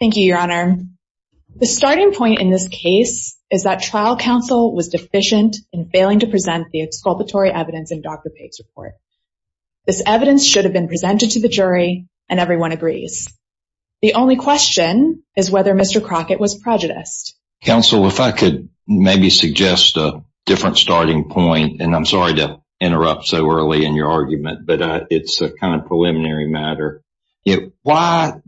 The starting point in this case is that trial counsel was deficient in failing to present the exculpatory evidence in Dr. Page's report. This evidence should have been presented to the jury, and everyone agrees. The only question is whether Mr. Crockett was prejudiced. Counsel, if I could maybe suggest a different starting point, and I'm sorry to interrupt so early in your argument, but it's a kind of preliminary matter. Why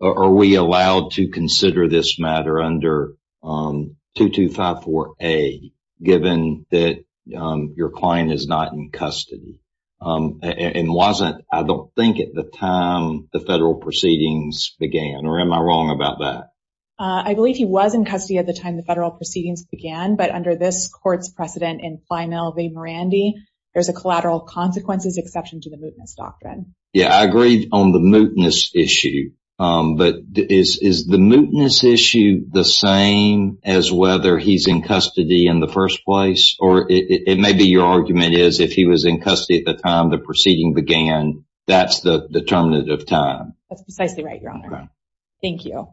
are we allowed to consider this matter under 2254A, given that your client is not in custody, and wasn't, I don't think, at the time the federal proceedings began, or am I wrong about that? I believe he was in custody at the time the federal proceedings began, but under this court's precedent in Plymouth v. Morandy, there's a collateral consequences exception to the mootness doctrine. Yeah, I agree on the mootness issue, but is the mootness issue the same as whether he's in custody in the first place? Or it may be your argument is if he was in custody at the time the proceeding began, that's the determinant of time. That's precisely right, Your Honor. Thank you.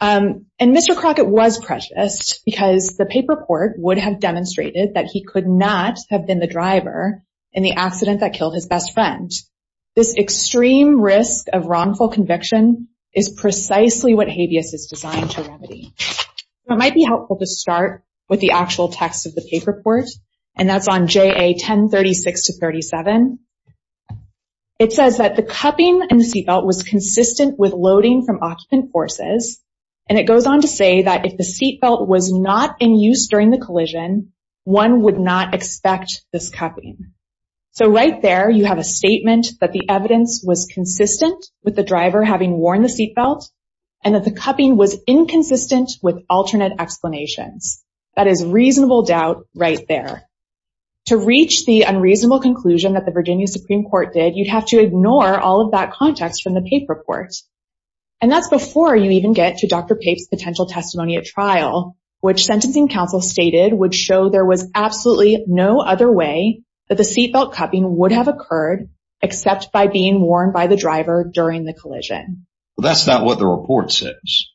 And Mr. Crockett was prejudiced because the paper report would have demonstrated that he could not have been the driver in the accident that killed his best friend. This extreme risk of wrongful conviction is precisely what habeas is designed to remedy. It might be helpful to start with the actual text of the paper report, and that's on JA 1036-37. It says that the cupping in the seatbelt was consistent with loading from occupant forces, and it goes on to say that if the seatbelt was not in use during the collision, one would not expect this cupping. So right there, you have a statement that the evidence was consistent with the driver having worn the seatbelt, and that the cupping was inconsistent with alternate explanations. That is reasonable doubt right there. To reach the unreasonable conclusion that the Virginia Supreme Court did, you'd have to ignore all of that context from the paper report. And that's before you even get to Dr. Pape's potential testimony at trial, which sentencing counsel stated would show there was absolutely no other way that the seatbelt cupping would have occurred except by being worn by the driver during the collision. Well, that's not what the report says,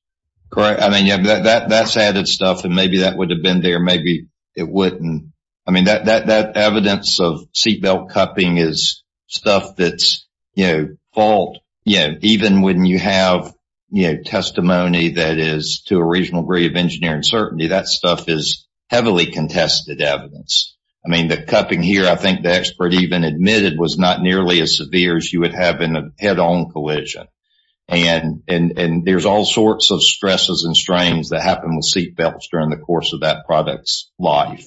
correct? I mean, that's added stuff, and maybe that would have been there. Maybe it wouldn't. I mean, that evidence of seatbelt cupping is stuff that's, you know, fault. Even when you have testimony that is to a regional degree of engineering certainty, that stuff is heavily contested evidence. I mean, the cupping here, I think the expert even admitted, was not nearly as severe as you would have in a head-on collision. And there's all sorts of stresses and strains that happen with seatbelts during the course of that product's life.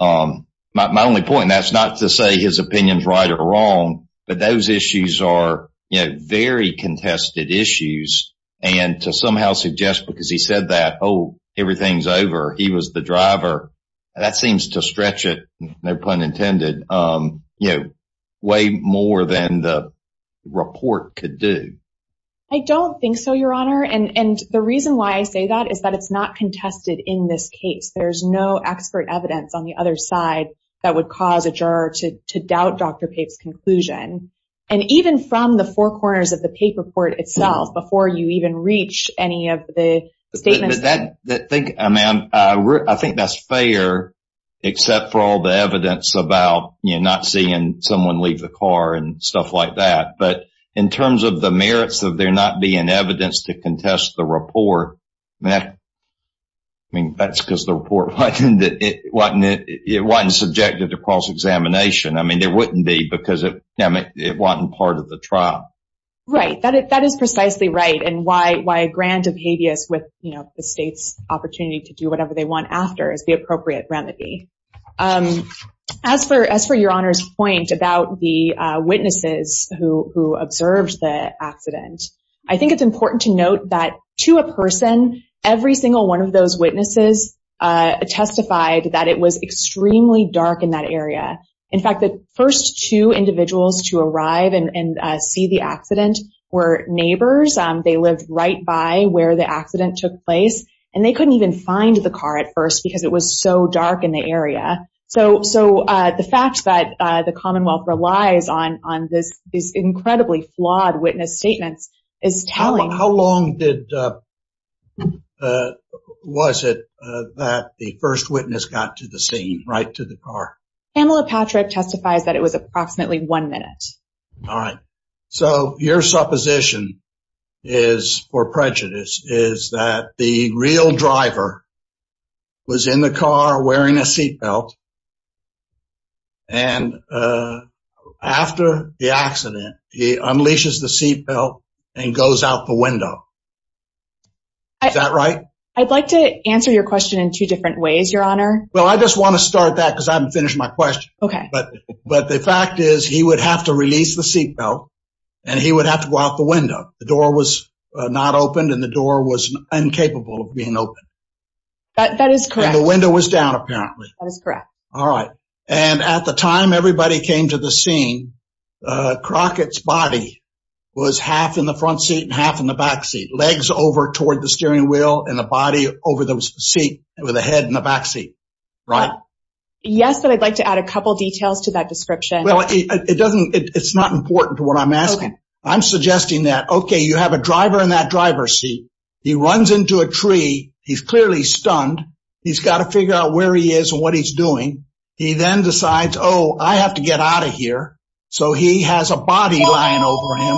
My only point, and that's not to say his opinion's right or wrong, but those issues are, you know, very contested issues. And to somehow suggest because he said that, oh, everything's over, he was the driver, that seems to stretch it, no pun intended, you know, way more than the report could do. I don't think so, Your Honor. And the reason why I say that is that it's not contested in this case. There's no expert evidence on the other side that would cause a juror to doubt Dr. Pape's opinion. And even from the four corners of the Pape report itself, before you even reach any of the statements. But that, I mean, I think that's fair, except for all the evidence about, you know, not seeing someone leave the car and stuff like that. But in terms of the merits of there not being evidence to contest the report, I mean, that's because the report wasn't subjected to cross-examination. I mean, there wouldn't be because it wasn't part of the trial. Right. That is precisely right. And why grant a habeas with the state's opportunity to do whatever they want after is the appropriate remedy. As for Your Honor's point about the witnesses who observed the accident, I think it's important to note that to a person, every single one of those witnesses testified that it was extremely dark in that area. In fact, the first two individuals to arrive and see the accident were neighbors. They lived right by where the accident took place. And they couldn't even find the car at first because it was so dark in the area. So the fact that the Commonwealth relies on these incredibly flawed witness statements is telling. How long was it that the first witness got to the scene, right to the car? Pamela Patrick testifies that it was approximately one minute. All right. So your supposition is, for prejudice, is that the real driver was in the car wearing a seat belt. And after the accident, he unleashes the seat belt and goes out the window. Is that right? I'd like to answer your question in two different ways, Your Honor. Well, I just want to start that because I haven't finished my question. But the fact is, he would have to release the seat belt and he would have to go out the window. The door was not opened and the door was incapable of being opened. That is correct. The window was down, apparently. That is correct. All right. And at the time everybody came to the scene, Crockett's body was half in the front seat and half in the back seat. Legs over toward the steering wheel and the body over the seat with the head in the back seat. Right. Yes, but I'd like to add a couple details to that description. Well, it's not important to what I'm asking. I'm suggesting that, okay, you have a driver in that driver's seat. He runs into a tree. He's clearly stunned. He's got to figure out where he is and what he's doing. He then decides, oh, I have to get out of here. So he has a body lying over him.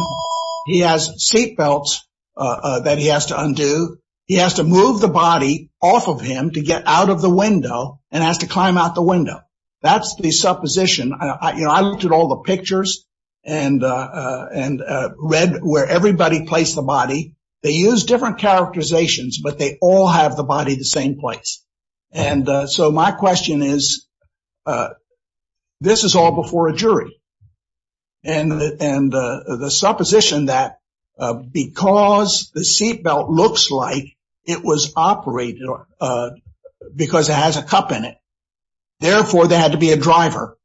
He has seat belts that he has to undo. He has to move the body off of him to get out of the window and has to climb out the window. That's the supposition. I looked at all the pictures and read where everybody placed the body. They use different characterizations, but they all have the body the same place. And so my question is, this is all before a jury. And the supposition that because the seat belt looks like it was operated because it has a cup in it, therefore, there had to be a driver.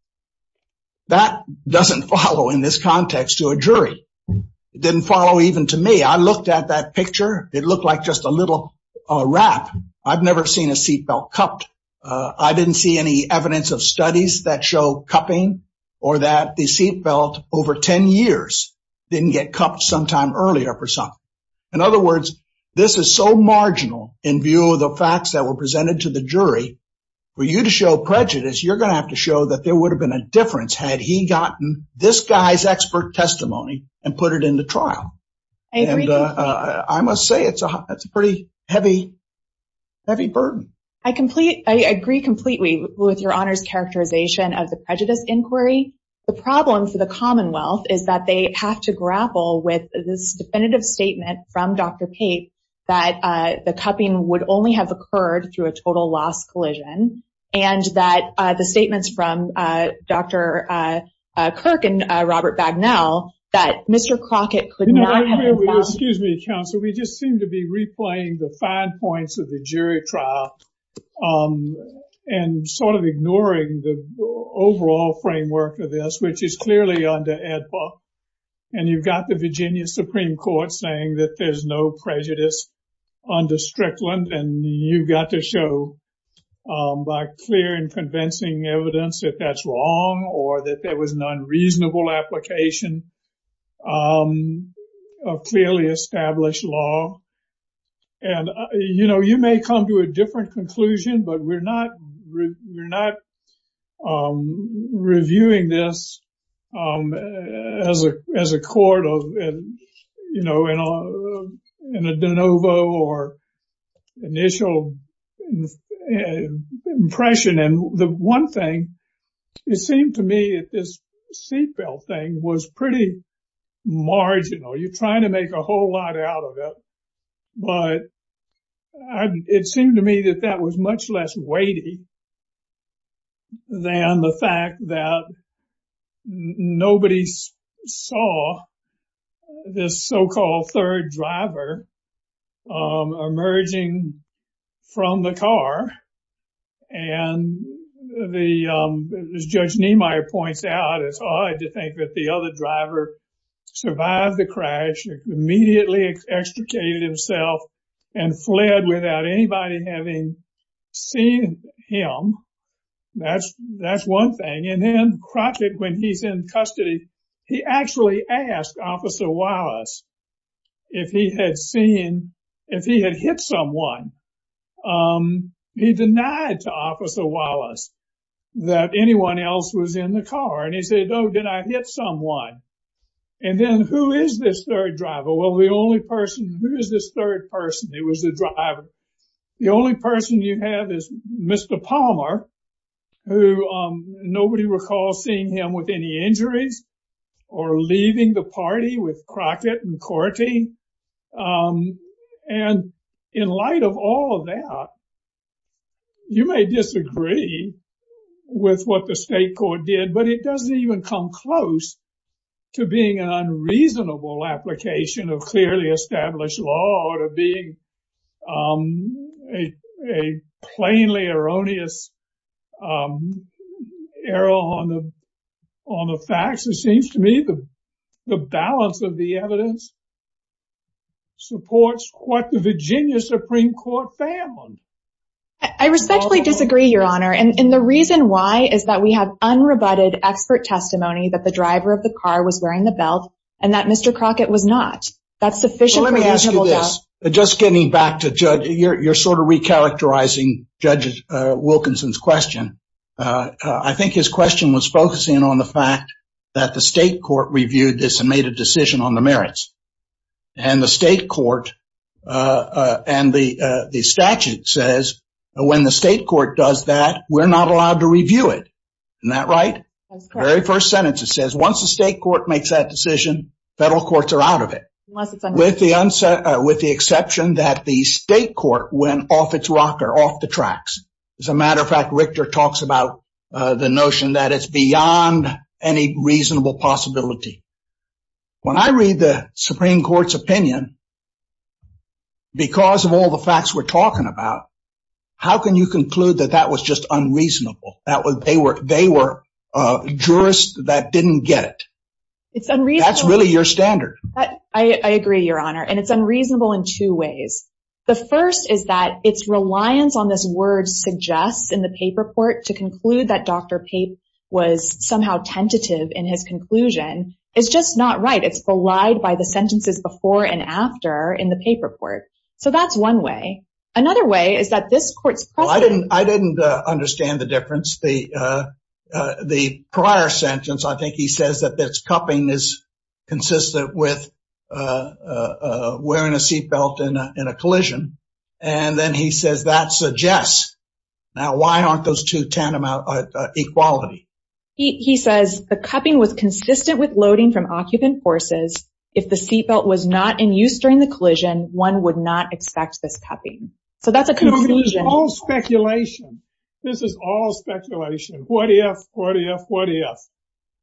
That doesn't follow in this context to a jury. It didn't follow even to me. I looked at that picture. It looked like just a little wrap. I've never seen a seat belt cupped. I didn't see any evidence of studies that show cupping or that the seat belt over 10 years didn't get cupped sometime earlier for something. In other words, this is so marginal in view of the facts that were presented to the jury. For you to show prejudice, you're going to have to show that there would have been a difference had he gotten this guy's expert testimony and put it into trial. I must say it's a pretty heavy, heavy burden. I agree completely with Your Honor's characterization of the prejudice inquiry. The problem for the Commonwealth is that they have to grapple with this definitive statement from Dr. Pape that the cupping would only have occurred through a total loss collision. And that the statements from Dr. Kirk and Robert Bagnell that Mr. Crockett could not have- Excuse me, counsel. We just seem to be replaying the fine points of the jury trial and sort of ignoring the overall framework of this, which is clearly under AEDPA. And you've got the Virginia Supreme Court saying that there's no prejudice under Strickland. And you've got to show by clear and convincing evidence that that's wrong or that there was an unreasonable application of clearly established law. And, you know, you may come to a different conclusion, but we're not reviewing this as a court of, you know, in a de novo or initial impression. The one thing, it seemed to me that this seatbelt thing was pretty marginal. You're trying to make a whole lot out of it, but it seemed to me that that was much less weighty than the fact that nobody saw this so-called third driver emerging from the car and the, as Judge Niemeyer points out, it's odd to think that the other driver survived the crash, immediately extricated himself and fled without anybody having seen him. That's one thing. And then Crockett, when he's in custody, he actually asked Officer Wallace if he had seen, um, he denied to Officer Wallace that anyone else was in the car. And he said, no, did I hit someone? And then who is this third driver? Well, the only person, who is this third person? It was the driver. The only person you have is Mr. Palmer, who nobody recalls seeing him with any injuries or leaving the party with Crockett and Corti. Um, and in light of all of that, you may disagree with what the state court did, but it doesn't even come close to being an unreasonable application of clearly established law or being, um, a plainly erroneous, um, error on the facts. It seems to me that the balance of the evidence supports what the Virginia Supreme Court found. I respectfully disagree, Your Honor. And the reason why is that we have unrebutted expert testimony that the driver of the car was wearing the belt and that Mr. Crockett was not. That's sufficiently- Let me ask you this. Just getting back to Judge, you're sort of recharacterizing Judge Wilkinson's question. Uh, I think his question was focusing on the fact that the state court reviewed this and made a decision on the merits. And the state court, uh, uh, and the, uh, the statute says, when the state court does that, we're not allowed to review it. Isn't that right? That's correct. Very first sentence, it says, once the state court makes that decision, federal courts are out of it. Unless it's under- With the exception that the state court went off its rocker, off the tracks. As a matter of fact, Richter talks about, uh, the notion that it's beyond any reasonable possibility. When I read the Supreme Court's opinion, because of all the facts we're talking about, how can you conclude that that was just unreasonable? That was, they were, they were, uh, jurists that didn't get it. It's unreasonable. That's really your standard. I, I agree, Your Honor. And it's unreasonable in two ways. The first is that its reliance on this word suggests in the paper report to conclude that Dr. Pape was somehow tentative in his conclusion. It's just not right. It's belied by the sentences before and after in the paper report. So that's one way. Another way is that this court's precedent- Well, I didn't, I didn't, uh, understand the difference. The, uh, uh, the prior sentence, I think he says that this cupping is consistent with, uh, uh, uh, wearing a seatbelt in a, in a collision. And then he says that suggests. Now, why aren't those two tantamount, uh, uh, equality? He says the cupping was consistent with loading from occupant forces. If the seatbelt was not in use during the collision, one would not expect this cupping. So that's a conclusion. This is all speculation. This is all speculation. What if, what if, what if?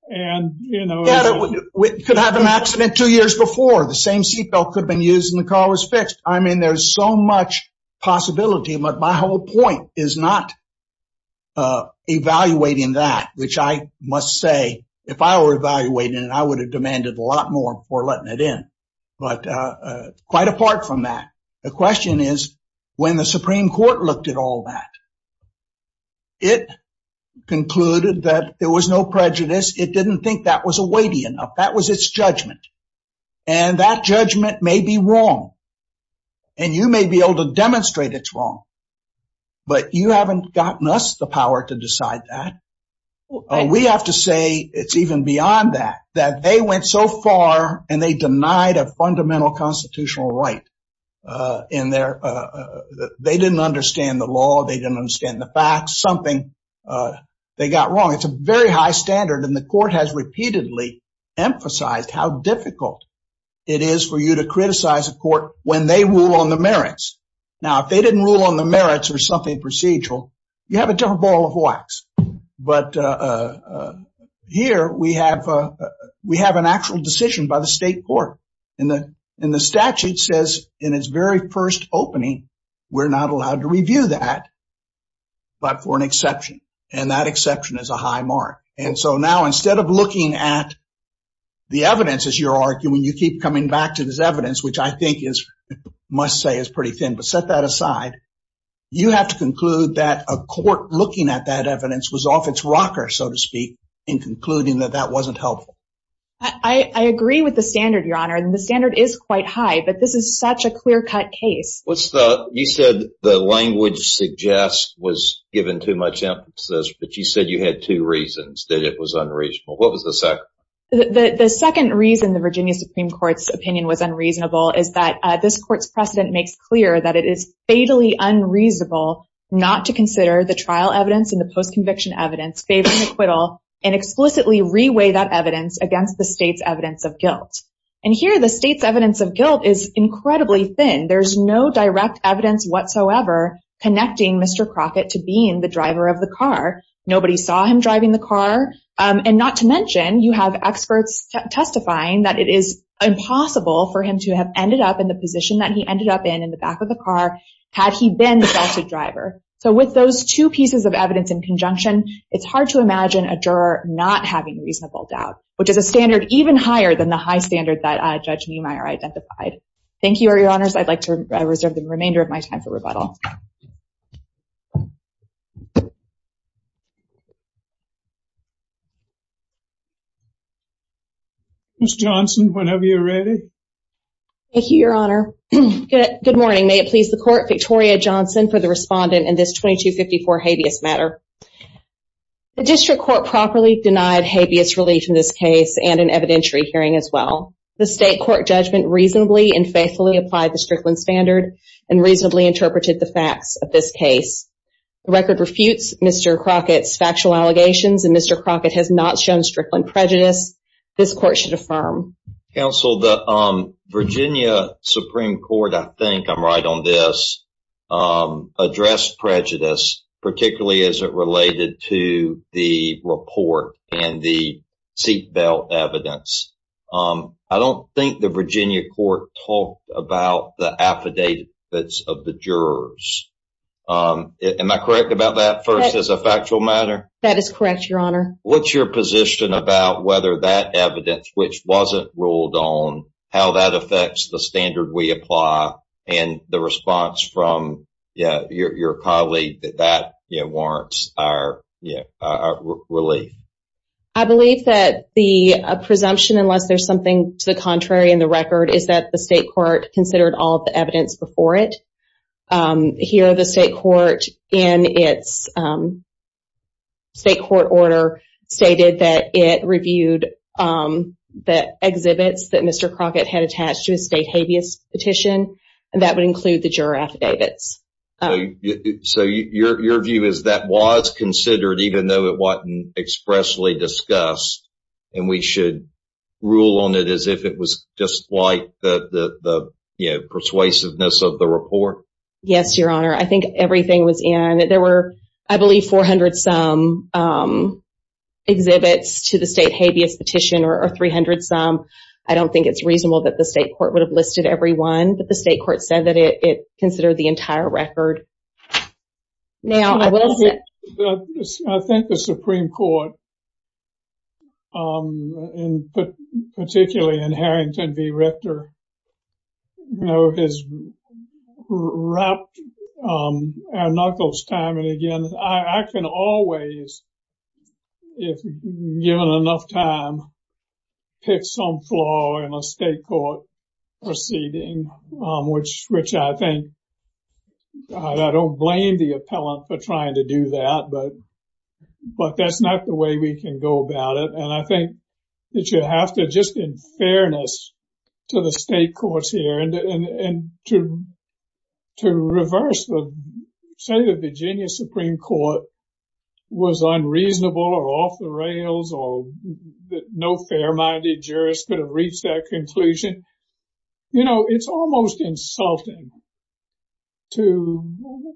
And, you know- We could have an accident two years before. The same seatbelt could have been used and the car was fixed. I mean, there's so much possibility, but my whole point is not, uh, evaluating that, which I must say, if I were evaluating it, I would have demanded a lot more for letting it in. But, uh, uh, quite apart from that. The question is when the Supreme Court looked at all that, it concluded that there was no prejudice. It didn't think that was a weighty enough. That was its judgment. And that judgment may be wrong. And you may be able to demonstrate it's wrong. But you haven't gotten us the power to decide that. We have to say it's even beyond that, that they went so far and they denied a fundamental constitutional right, uh, in their, uh, uh, they didn't understand the law. They didn't understand the facts. Something, uh, they got wrong. It's a very high standard. And the court has repeatedly emphasized how difficult it is for you to criticize a court when they rule on the merits. Now, if they didn't rule on the merits or something procedural, you have a different ball of wax. But, uh, uh, here we have, uh, we have an actual decision by the state court. And the statute says in its very first opening, we're not allowed to review that, but for an exception. And that exception is a high mark. And so now instead of looking at the evidence, as you're arguing, you keep coming back to this evidence, which I think is, must say is pretty thin, but set that aside. You have to conclude that a court looking at that evidence was off its rocker, so to speak, in concluding that that wasn't helpful. I, I agree with the standard, Your Honor. And the standard is quite high, but this is such a clear-cut case. What's the, you said the language suggests was given too much emphasis, but you said you had two reasons that it was unreasonable. What was the second? The second reason the Virginia Supreme Court's opinion was unreasonable is that this court's precedent makes clear that it is fatally unreasonable not to consider the trial evidence and the post-conviction evidence favoring acquittal and explicitly reweigh that evidence against the state's evidence of guilt. And here the state's evidence of guilt is incredibly thin. There's no direct evidence whatsoever connecting Mr. Crockett to being the driver of the car. Nobody saw him driving the car. And not to mention, you have experts testifying that it is impossible for him to have ended up in the position that he ended up in, in the back of the car, had he been the salted driver. So with those two pieces of evidence in conjunction, it's hard to imagine a juror not having reasonable doubt, which is a standard even higher than the high standard that Judge Niemeyer identified. Thank you, Your Honors. I'd like to reserve the remainder of my time for rebuttal. Ms. Johnson, whenever you're ready. Thank you, Your Honor. Good morning. May it please the court, Victoria Johnson for the respondent in this 2254 habeas matter. The district court properly denied habeas relief in this case and an evidentiary hearing as well. The state court judgment reasonably and faithfully applied the Strickland standard and reasonably interpreted the facts of this case. The record refutes Mr. Crockett's factual allegations and Mr. Crockett has not shown Strickland prejudice. This court should affirm. Counsel, the Virginia Supreme Court, I think I'm right on this, addressed prejudice, particularly as it related to the report and the seat belt evidence. I don't think the Virginia court talked about the affidavits of the jurors. Am I correct about that first as a factual matter? That is correct, Your Honor. What's your position about whether that evidence, which wasn't ruled on, how that affects the standard we apply and the response from your colleague that warrants our relief? I believe that the presumption, unless there's something to the contrary in the record, is that the state court considered all of the evidence before it. Here the state court in its state court order stated that it reviewed the exhibits that Mr. Crockett had attached to a state habeas petition and that would include the juror affidavits. So your view is that was considered even though it wasn't expressly discussed and we should rule on it as if it was just like the persuasiveness of the report? Yes, Your Honor. I think everything was in. There were, I believe, 400-some exhibits to the state habeas petition or 300-some. I don't think it's reasonable that the state court would have listed every one, but the state court said that it considered the entire record. I think the Supreme Court, particularly in Harrington v. Richter, has wrapped our knuckles time and again. I can always, if given enough time, pick some flaw in a state court proceeding. Which I think, I don't blame the appellant for trying to do that, but that's not the way we can go about it. And I think that you have to just in fairness to the state courts here and to reverse the, say the Virginia Supreme Court was unreasonable or off the rails or no fair-minded jurist could have reached that conclusion. You know, it's almost insulting to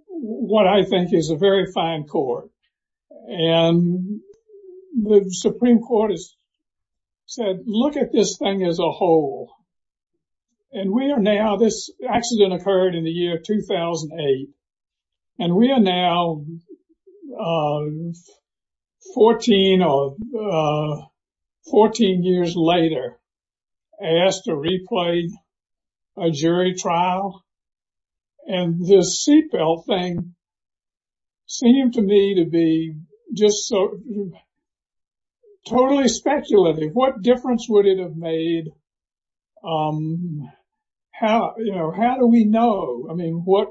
what I think is a very fine court. And the Supreme Court has said, look at this thing as a whole. And we are now, this accident occurred in the year 2008, and we are now 14 years later asked to replay a jury trial. And this seatbelt thing seemed to me to be just so totally speculative. What difference would it have made? How, you know, how do we know? I mean, what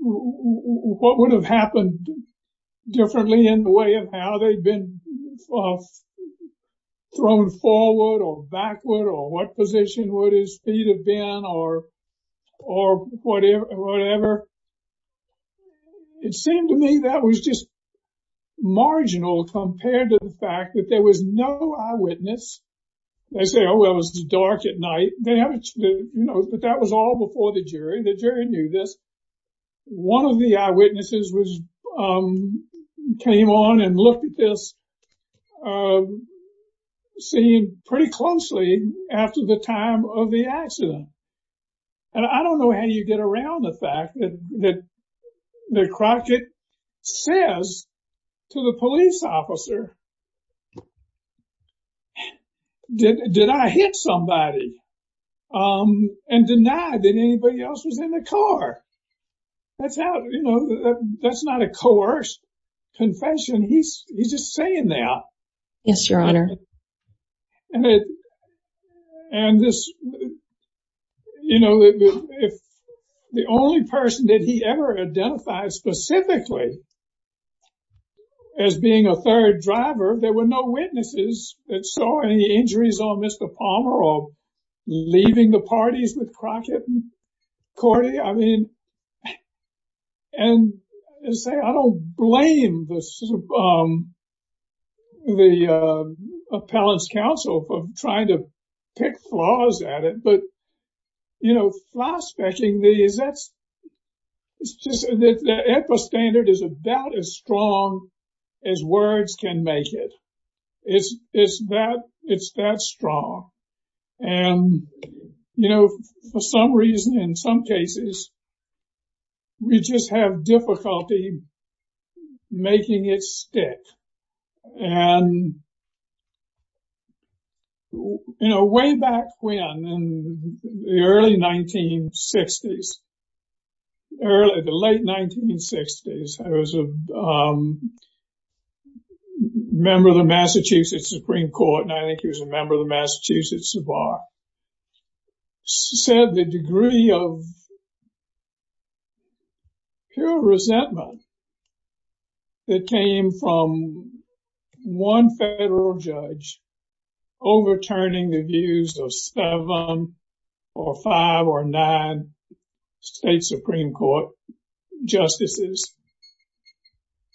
would have happened differently in the way of how they'd been thrown forward or backward or what position would his feet have been or whatever? It seemed to me that was just marginal compared to the fact that there was no eyewitness. They say, oh, well, it was dark at night. They haven't, you know, but that was all before the jury. The jury knew this. One of the eyewitnesses was, came on and looked at this scene pretty closely after the time of the accident. And I don't know how you get around the fact that Crockett says to the police officer, did I hit somebody and deny that anybody else was in the car? That's not, you know, that's not a coerced confession. He's just saying that. Yes, your honor. And this, you know, if the only person that he ever identified specifically as being a third driver, there were no witnesses that saw any injuries on Mr. Palmer or leaving the parties with Crockett and Cordy. I mean, and say, I don't blame the appellate's counsel for trying to pick flaws at it. You know, flyspecking, the epistandard is about as strong as words can make it. It's that strong. And, you know, for some reason, in some cases, we just have difficulty making it stick. And, you know, way back when, in the early 1960s, the late 1960s, I was a member of the Massachusetts Supreme Court, and I think he was a member of the Massachusetts Bar, said the degree of pure resentment that came from one federal judge overturning the views of seven or five or nine state Supreme Court justices.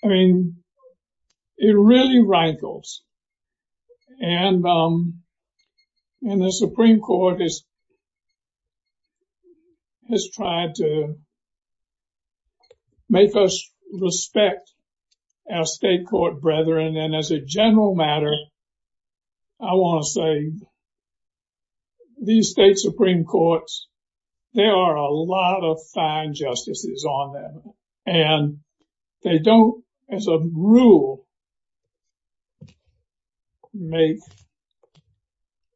I mean, it really rankles. And the Supreme Court has tried to make us respect our state court brethren. And as a general matter, I want to say these state Supreme Courts, there are a lot of fine justices on them, and they don't, as a rule, make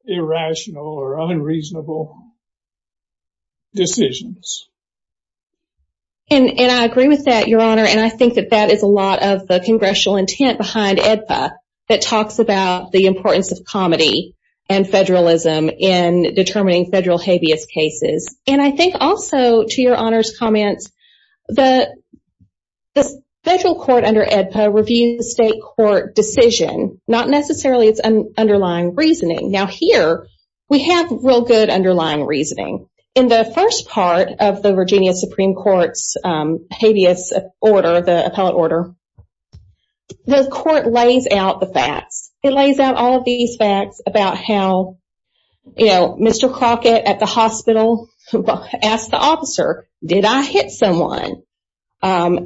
irrational or unreasonable decisions. And I agree with that, Your Honor, and I think that that is a lot of the congressional intent behind AEDPA that talks about the importance of comedy and federalism in determining federal habeas cases. And I think also, to Your Honor's comments, the federal court under AEDPA reviews the state court decision, not necessarily its underlying reasoning. Now, here, we have real good underlying reasoning. In the first part of the Virginia Supreme Court's habeas order, the appellate order, the court lays out the facts. It lays out all of these facts about how, you know, Mr. Crockett at the hospital asked the officer, did I hit someone?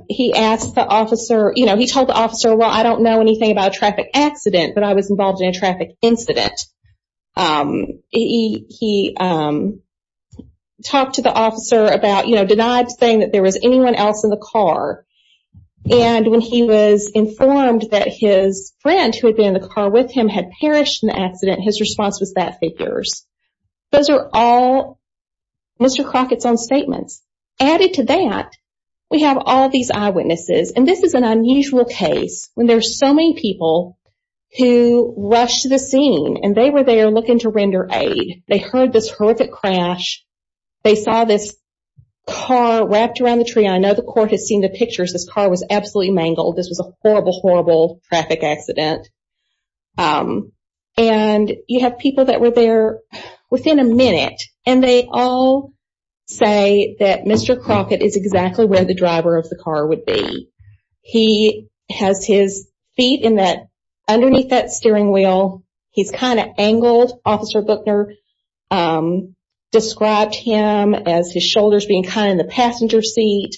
He asked the officer, you know, he told the officer, well, I don't know anything about a traffic accident, but I was involved in a traffic incident. He talked to the officer about, you know, denied saying that there was anyone else in the car. And when he was informed that his friend who had been in the car with him had perished in the accident, his response was, that figures. Those are all Mr. Crockett's own There's so many people who rushed to the scene and they were there looking to render aid. They heard this horrific crash. They saw this car wrapped around the tree. I know the court has seen the pictures. This car was absolutely mangled. This was a horrible, horrible traffic accident. And you have people that were there within a minute, and they all say that Mr. Crockett is has his feet in that, underneath that steering wheel. He's kind of angled. Officer Buckner described him as his shoulders being kind of in the passenger seat.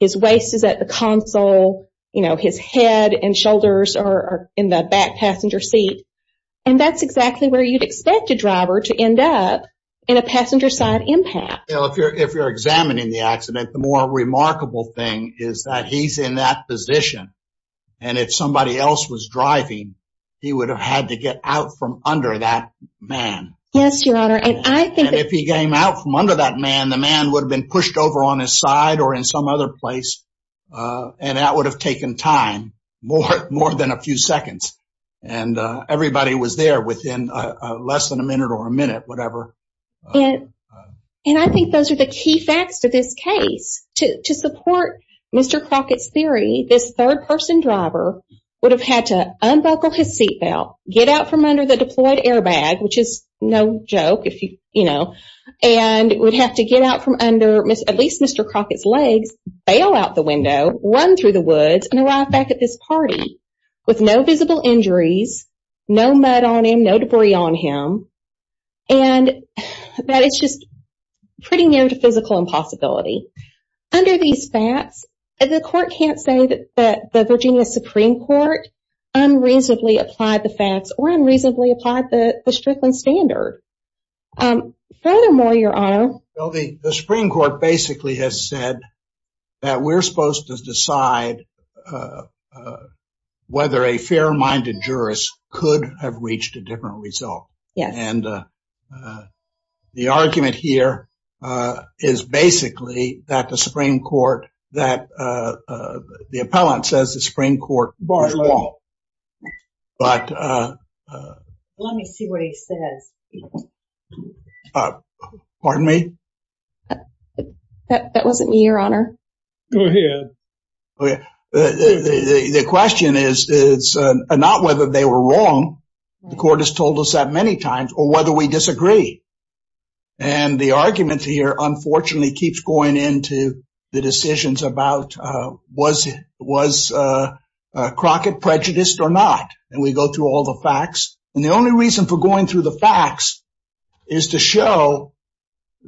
His waist is at the console, you know, his head and shoulders are in the back passenger seat. And that's exactly where you'd expect a driver to end up in a passenger side impact. If you're examining the accident, the more remarkable thing is that he's in that position. And if somebody else was driving, he would have had to get out from under that man. Yes, Your Honor. And I think if he came out from under that man, the man would have been pushed over on his side or in some other place. And that would have taken time, more than a few seconds. And everybody was there within less than a minute or a minute, whatever. And I think those are the key facts to this case. To support Mr. Crockett's theory, this third person driver would have had to unbuckle his seatbelt, get out from under the deployed airbag, which is no joke, you know, and would have to get out from under at least Mr. Crockett's legs, bail out the window, run through the woods, and arrive back at this party with no visible injuries, no mud on him, no debris on him. And that it's just pretty near to physical impossibility. Under these facts, the court can't say that the Virginia Supreme Court unreasonably applied the facts or unreasonably applied the Strickland standard. Furthermore, Your Honor. Well, the Supreme Court basically has said that we're supposed to decide whether a fair-minded jurist could have reached a different result. And the argument here is basically that the Supreme Court, that the appellant says the Go ahead. The question is not whether they were wrong. The court has told us that many times or whether we disagree. And the argument here, unfortunately, keeps going into the decisions about was Crockett prejudiced or not. And we go through all the facts. And the only reason for going through the facts is to show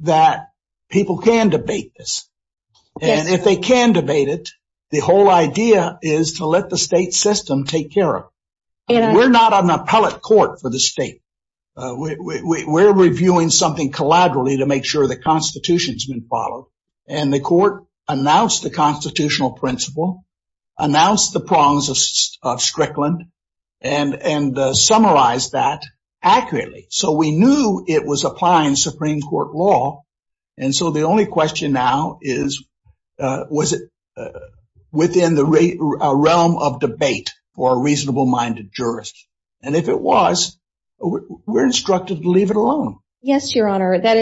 that people can debate this. And if they can debate it, the whole idea is to let the state system take care of it. We're not an appellate court for the state. We're reviewing something collaterally to make sure the Constitution has been followed. And the court announced the constitutional principle, announced the prongs of Strickland, and summarized that accurately. So we knew it was applying Supreme Court law. And so the only question now is, was it within the realm of debate for a reasonable-minded jurist? And if it was, we're instructed to leave it alone. Yes, Your Honor. That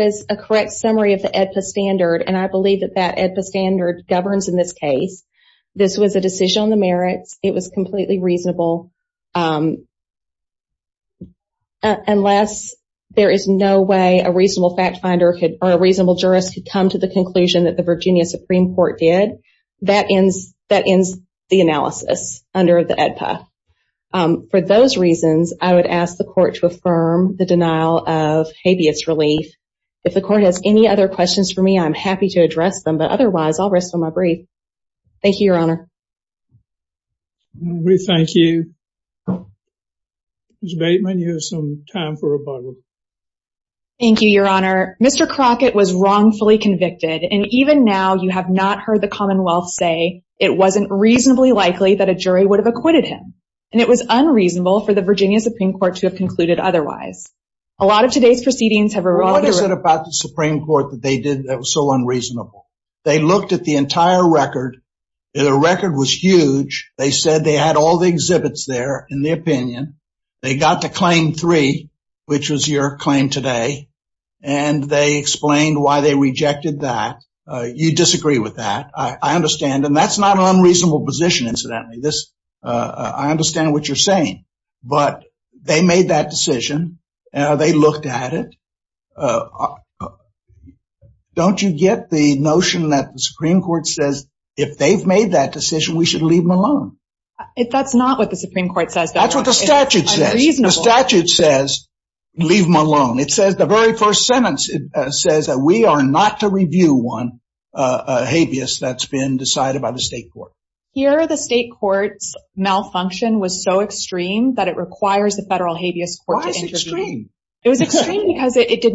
is a correct summary of the AEDPA standard. And I believe that that AEDPA standard governs in this case. This was a decision on the merits. It was completely reasonable. Unless there is no way a reasonable fact finder or a reasonable jurist could come to the conclusion that the Virginia Supreme Court did, that ends the analysis under the AEDPA. For those reasons, I would ask the court to affirm the denial of habeas relief. If the court has any other questions for me, I'm happy to address them. Otherwise, I'll rest on my breath. Thank you, Your Honor. We thank you. Ms. Bateman, you have some time for rebuttal. Thank you, Your Honor. Mr. Crockett was wrongfully convicted. And even now, you have not heard the Commonwealth say it wasn't reasonably likely that a jury would have acquitted him. And it was unreasonable for the Virginia Supreme Court to have concluded otherwise. A lot of today's proceedings have revolved around- about the Supreme Court that they did that was so unreasonable. They looked at the entire record. The record was huge. They said they had all the exhibits there in their opinion. They got to claim three, which was your claim today. And they explained why they rejected that. You disagree with that. I understand. And that's not an unreasonable position, incidentally. I understand what you're saying. But they made that decision. They looked at it. Uh, don't you get the notion that the Supreme Court says if they've made that decision, we should leave him alone? That's not what the Supreme Court says. That's what the statute says. The statute says, leave him alone. It says the very first sentence, it says that we are not to review one habeas that's been decided by the state court. Here, the state court's malfunction was so extreme that it requires the federal habeas quorum to intervene. Why is it extreme? It was extreme because it did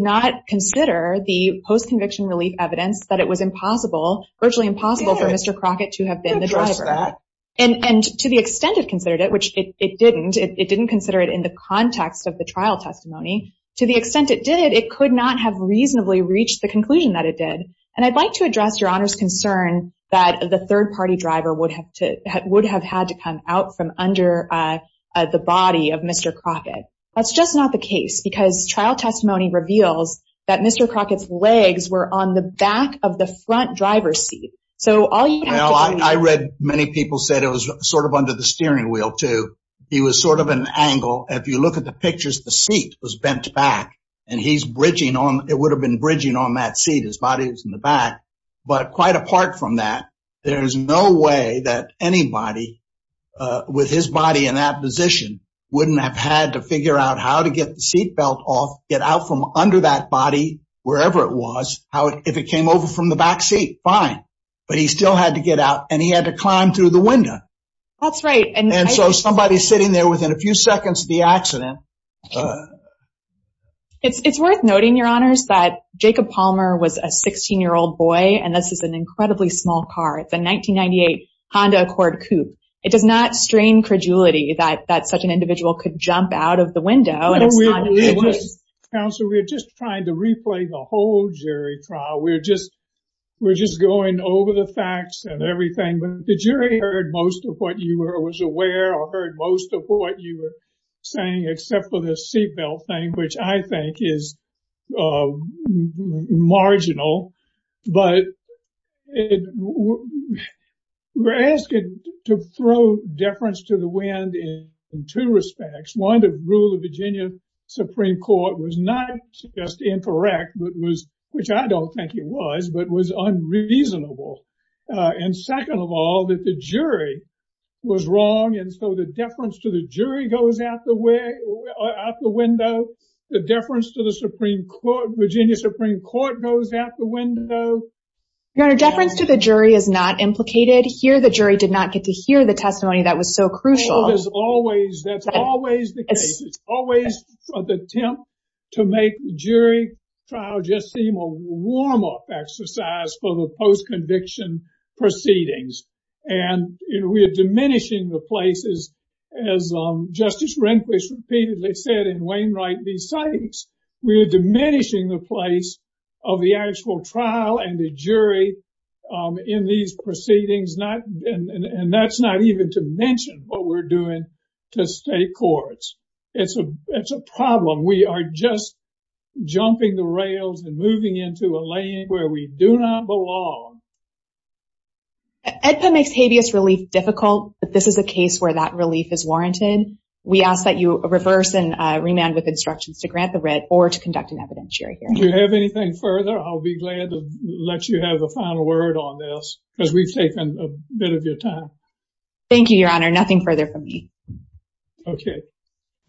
not consider the post-conviction relief evidence that it was impossible, virtually impossible for Mr. Crockett to have been the driver. And to the extent it considered it, which it didn't, it didn't consider it in the context of the trial testimony. To the extent it did, it could not have reasonably reached the conclusion that it did. And I'd like to address your Honor's concern that the third party driver would have to- would have had to come out from under the body of Mr. Crockett. That's just not the case because trial testimony reveals that Mr. Crockett's legs were on the back of the front driver's seat. So all you- Well, I read many people said it was sort of under the steering wheel too. It was sort of an angle. If you look at the pictures, the seat was bent back and he's bridging on- it would have been bridging on that seat. His body was in the back. But quite apart from that, there's no way that anybody with his body in that position wouldn't have had to figure out how to get the seat belt off, get out from under that body, wherever it was, how it- if it came over from the back seat, fine. But he still had to get out and he had to climb through the window. That's right. And- And so somebody sitting there within a few seconds of the accident- It's worth noting, Your Honors, that Jacob Palmer was a 16-year-old boy and this is an coup. It does not strain credulity that such an individual could jump out of the window. Counselor, we're just trying to replay the whole jury trial. We're just- we're just going over the facts and everything. But the jury heard most of what you were- was aware or heard most of what you were saying, except for the seat belt thing, which I think is marginal. But we're asking to throw deference to the wind in two respects. One, the rule of Virginia Supreme Court was not just incorrect, but was- which I don't think it was, but was unreasonable. And second of all, that the jury was wrong. And so the deference to the jury goes out the way- out the window. The deference to the Supreme Court- Virginia Supreme Court goes out the window. Your Honor, deference to the jury is not implicated here. The jury did not get to hear the testimony that was so crucial. There's always- that's always the case. It's always the attempt to make jury trial just seem a warm-up exercise for the post-conviction proceedings. And we are diminishing the places, as Justice Rehnquist repeatedly said in Wainwright v. Sykes, we are diminishing the place of the actual trial and the jury in these proceedings, not- and that's not even to mention what we're doing to state courts. It's a- it's a problem. We are just jumping the rails and moving into a land where we do not belong. AEDPA makes habeas relief difficult, but this is a case where that relief is warranted. We ask that you reverse and remand with instructions to grant the writ or to conduct an evidentiary hearing. Do you have anything further? I'll be glad to let you have the final word on this because we've taken a bit of your time. Thank you, Your Honor. Nothing further from me. Okay.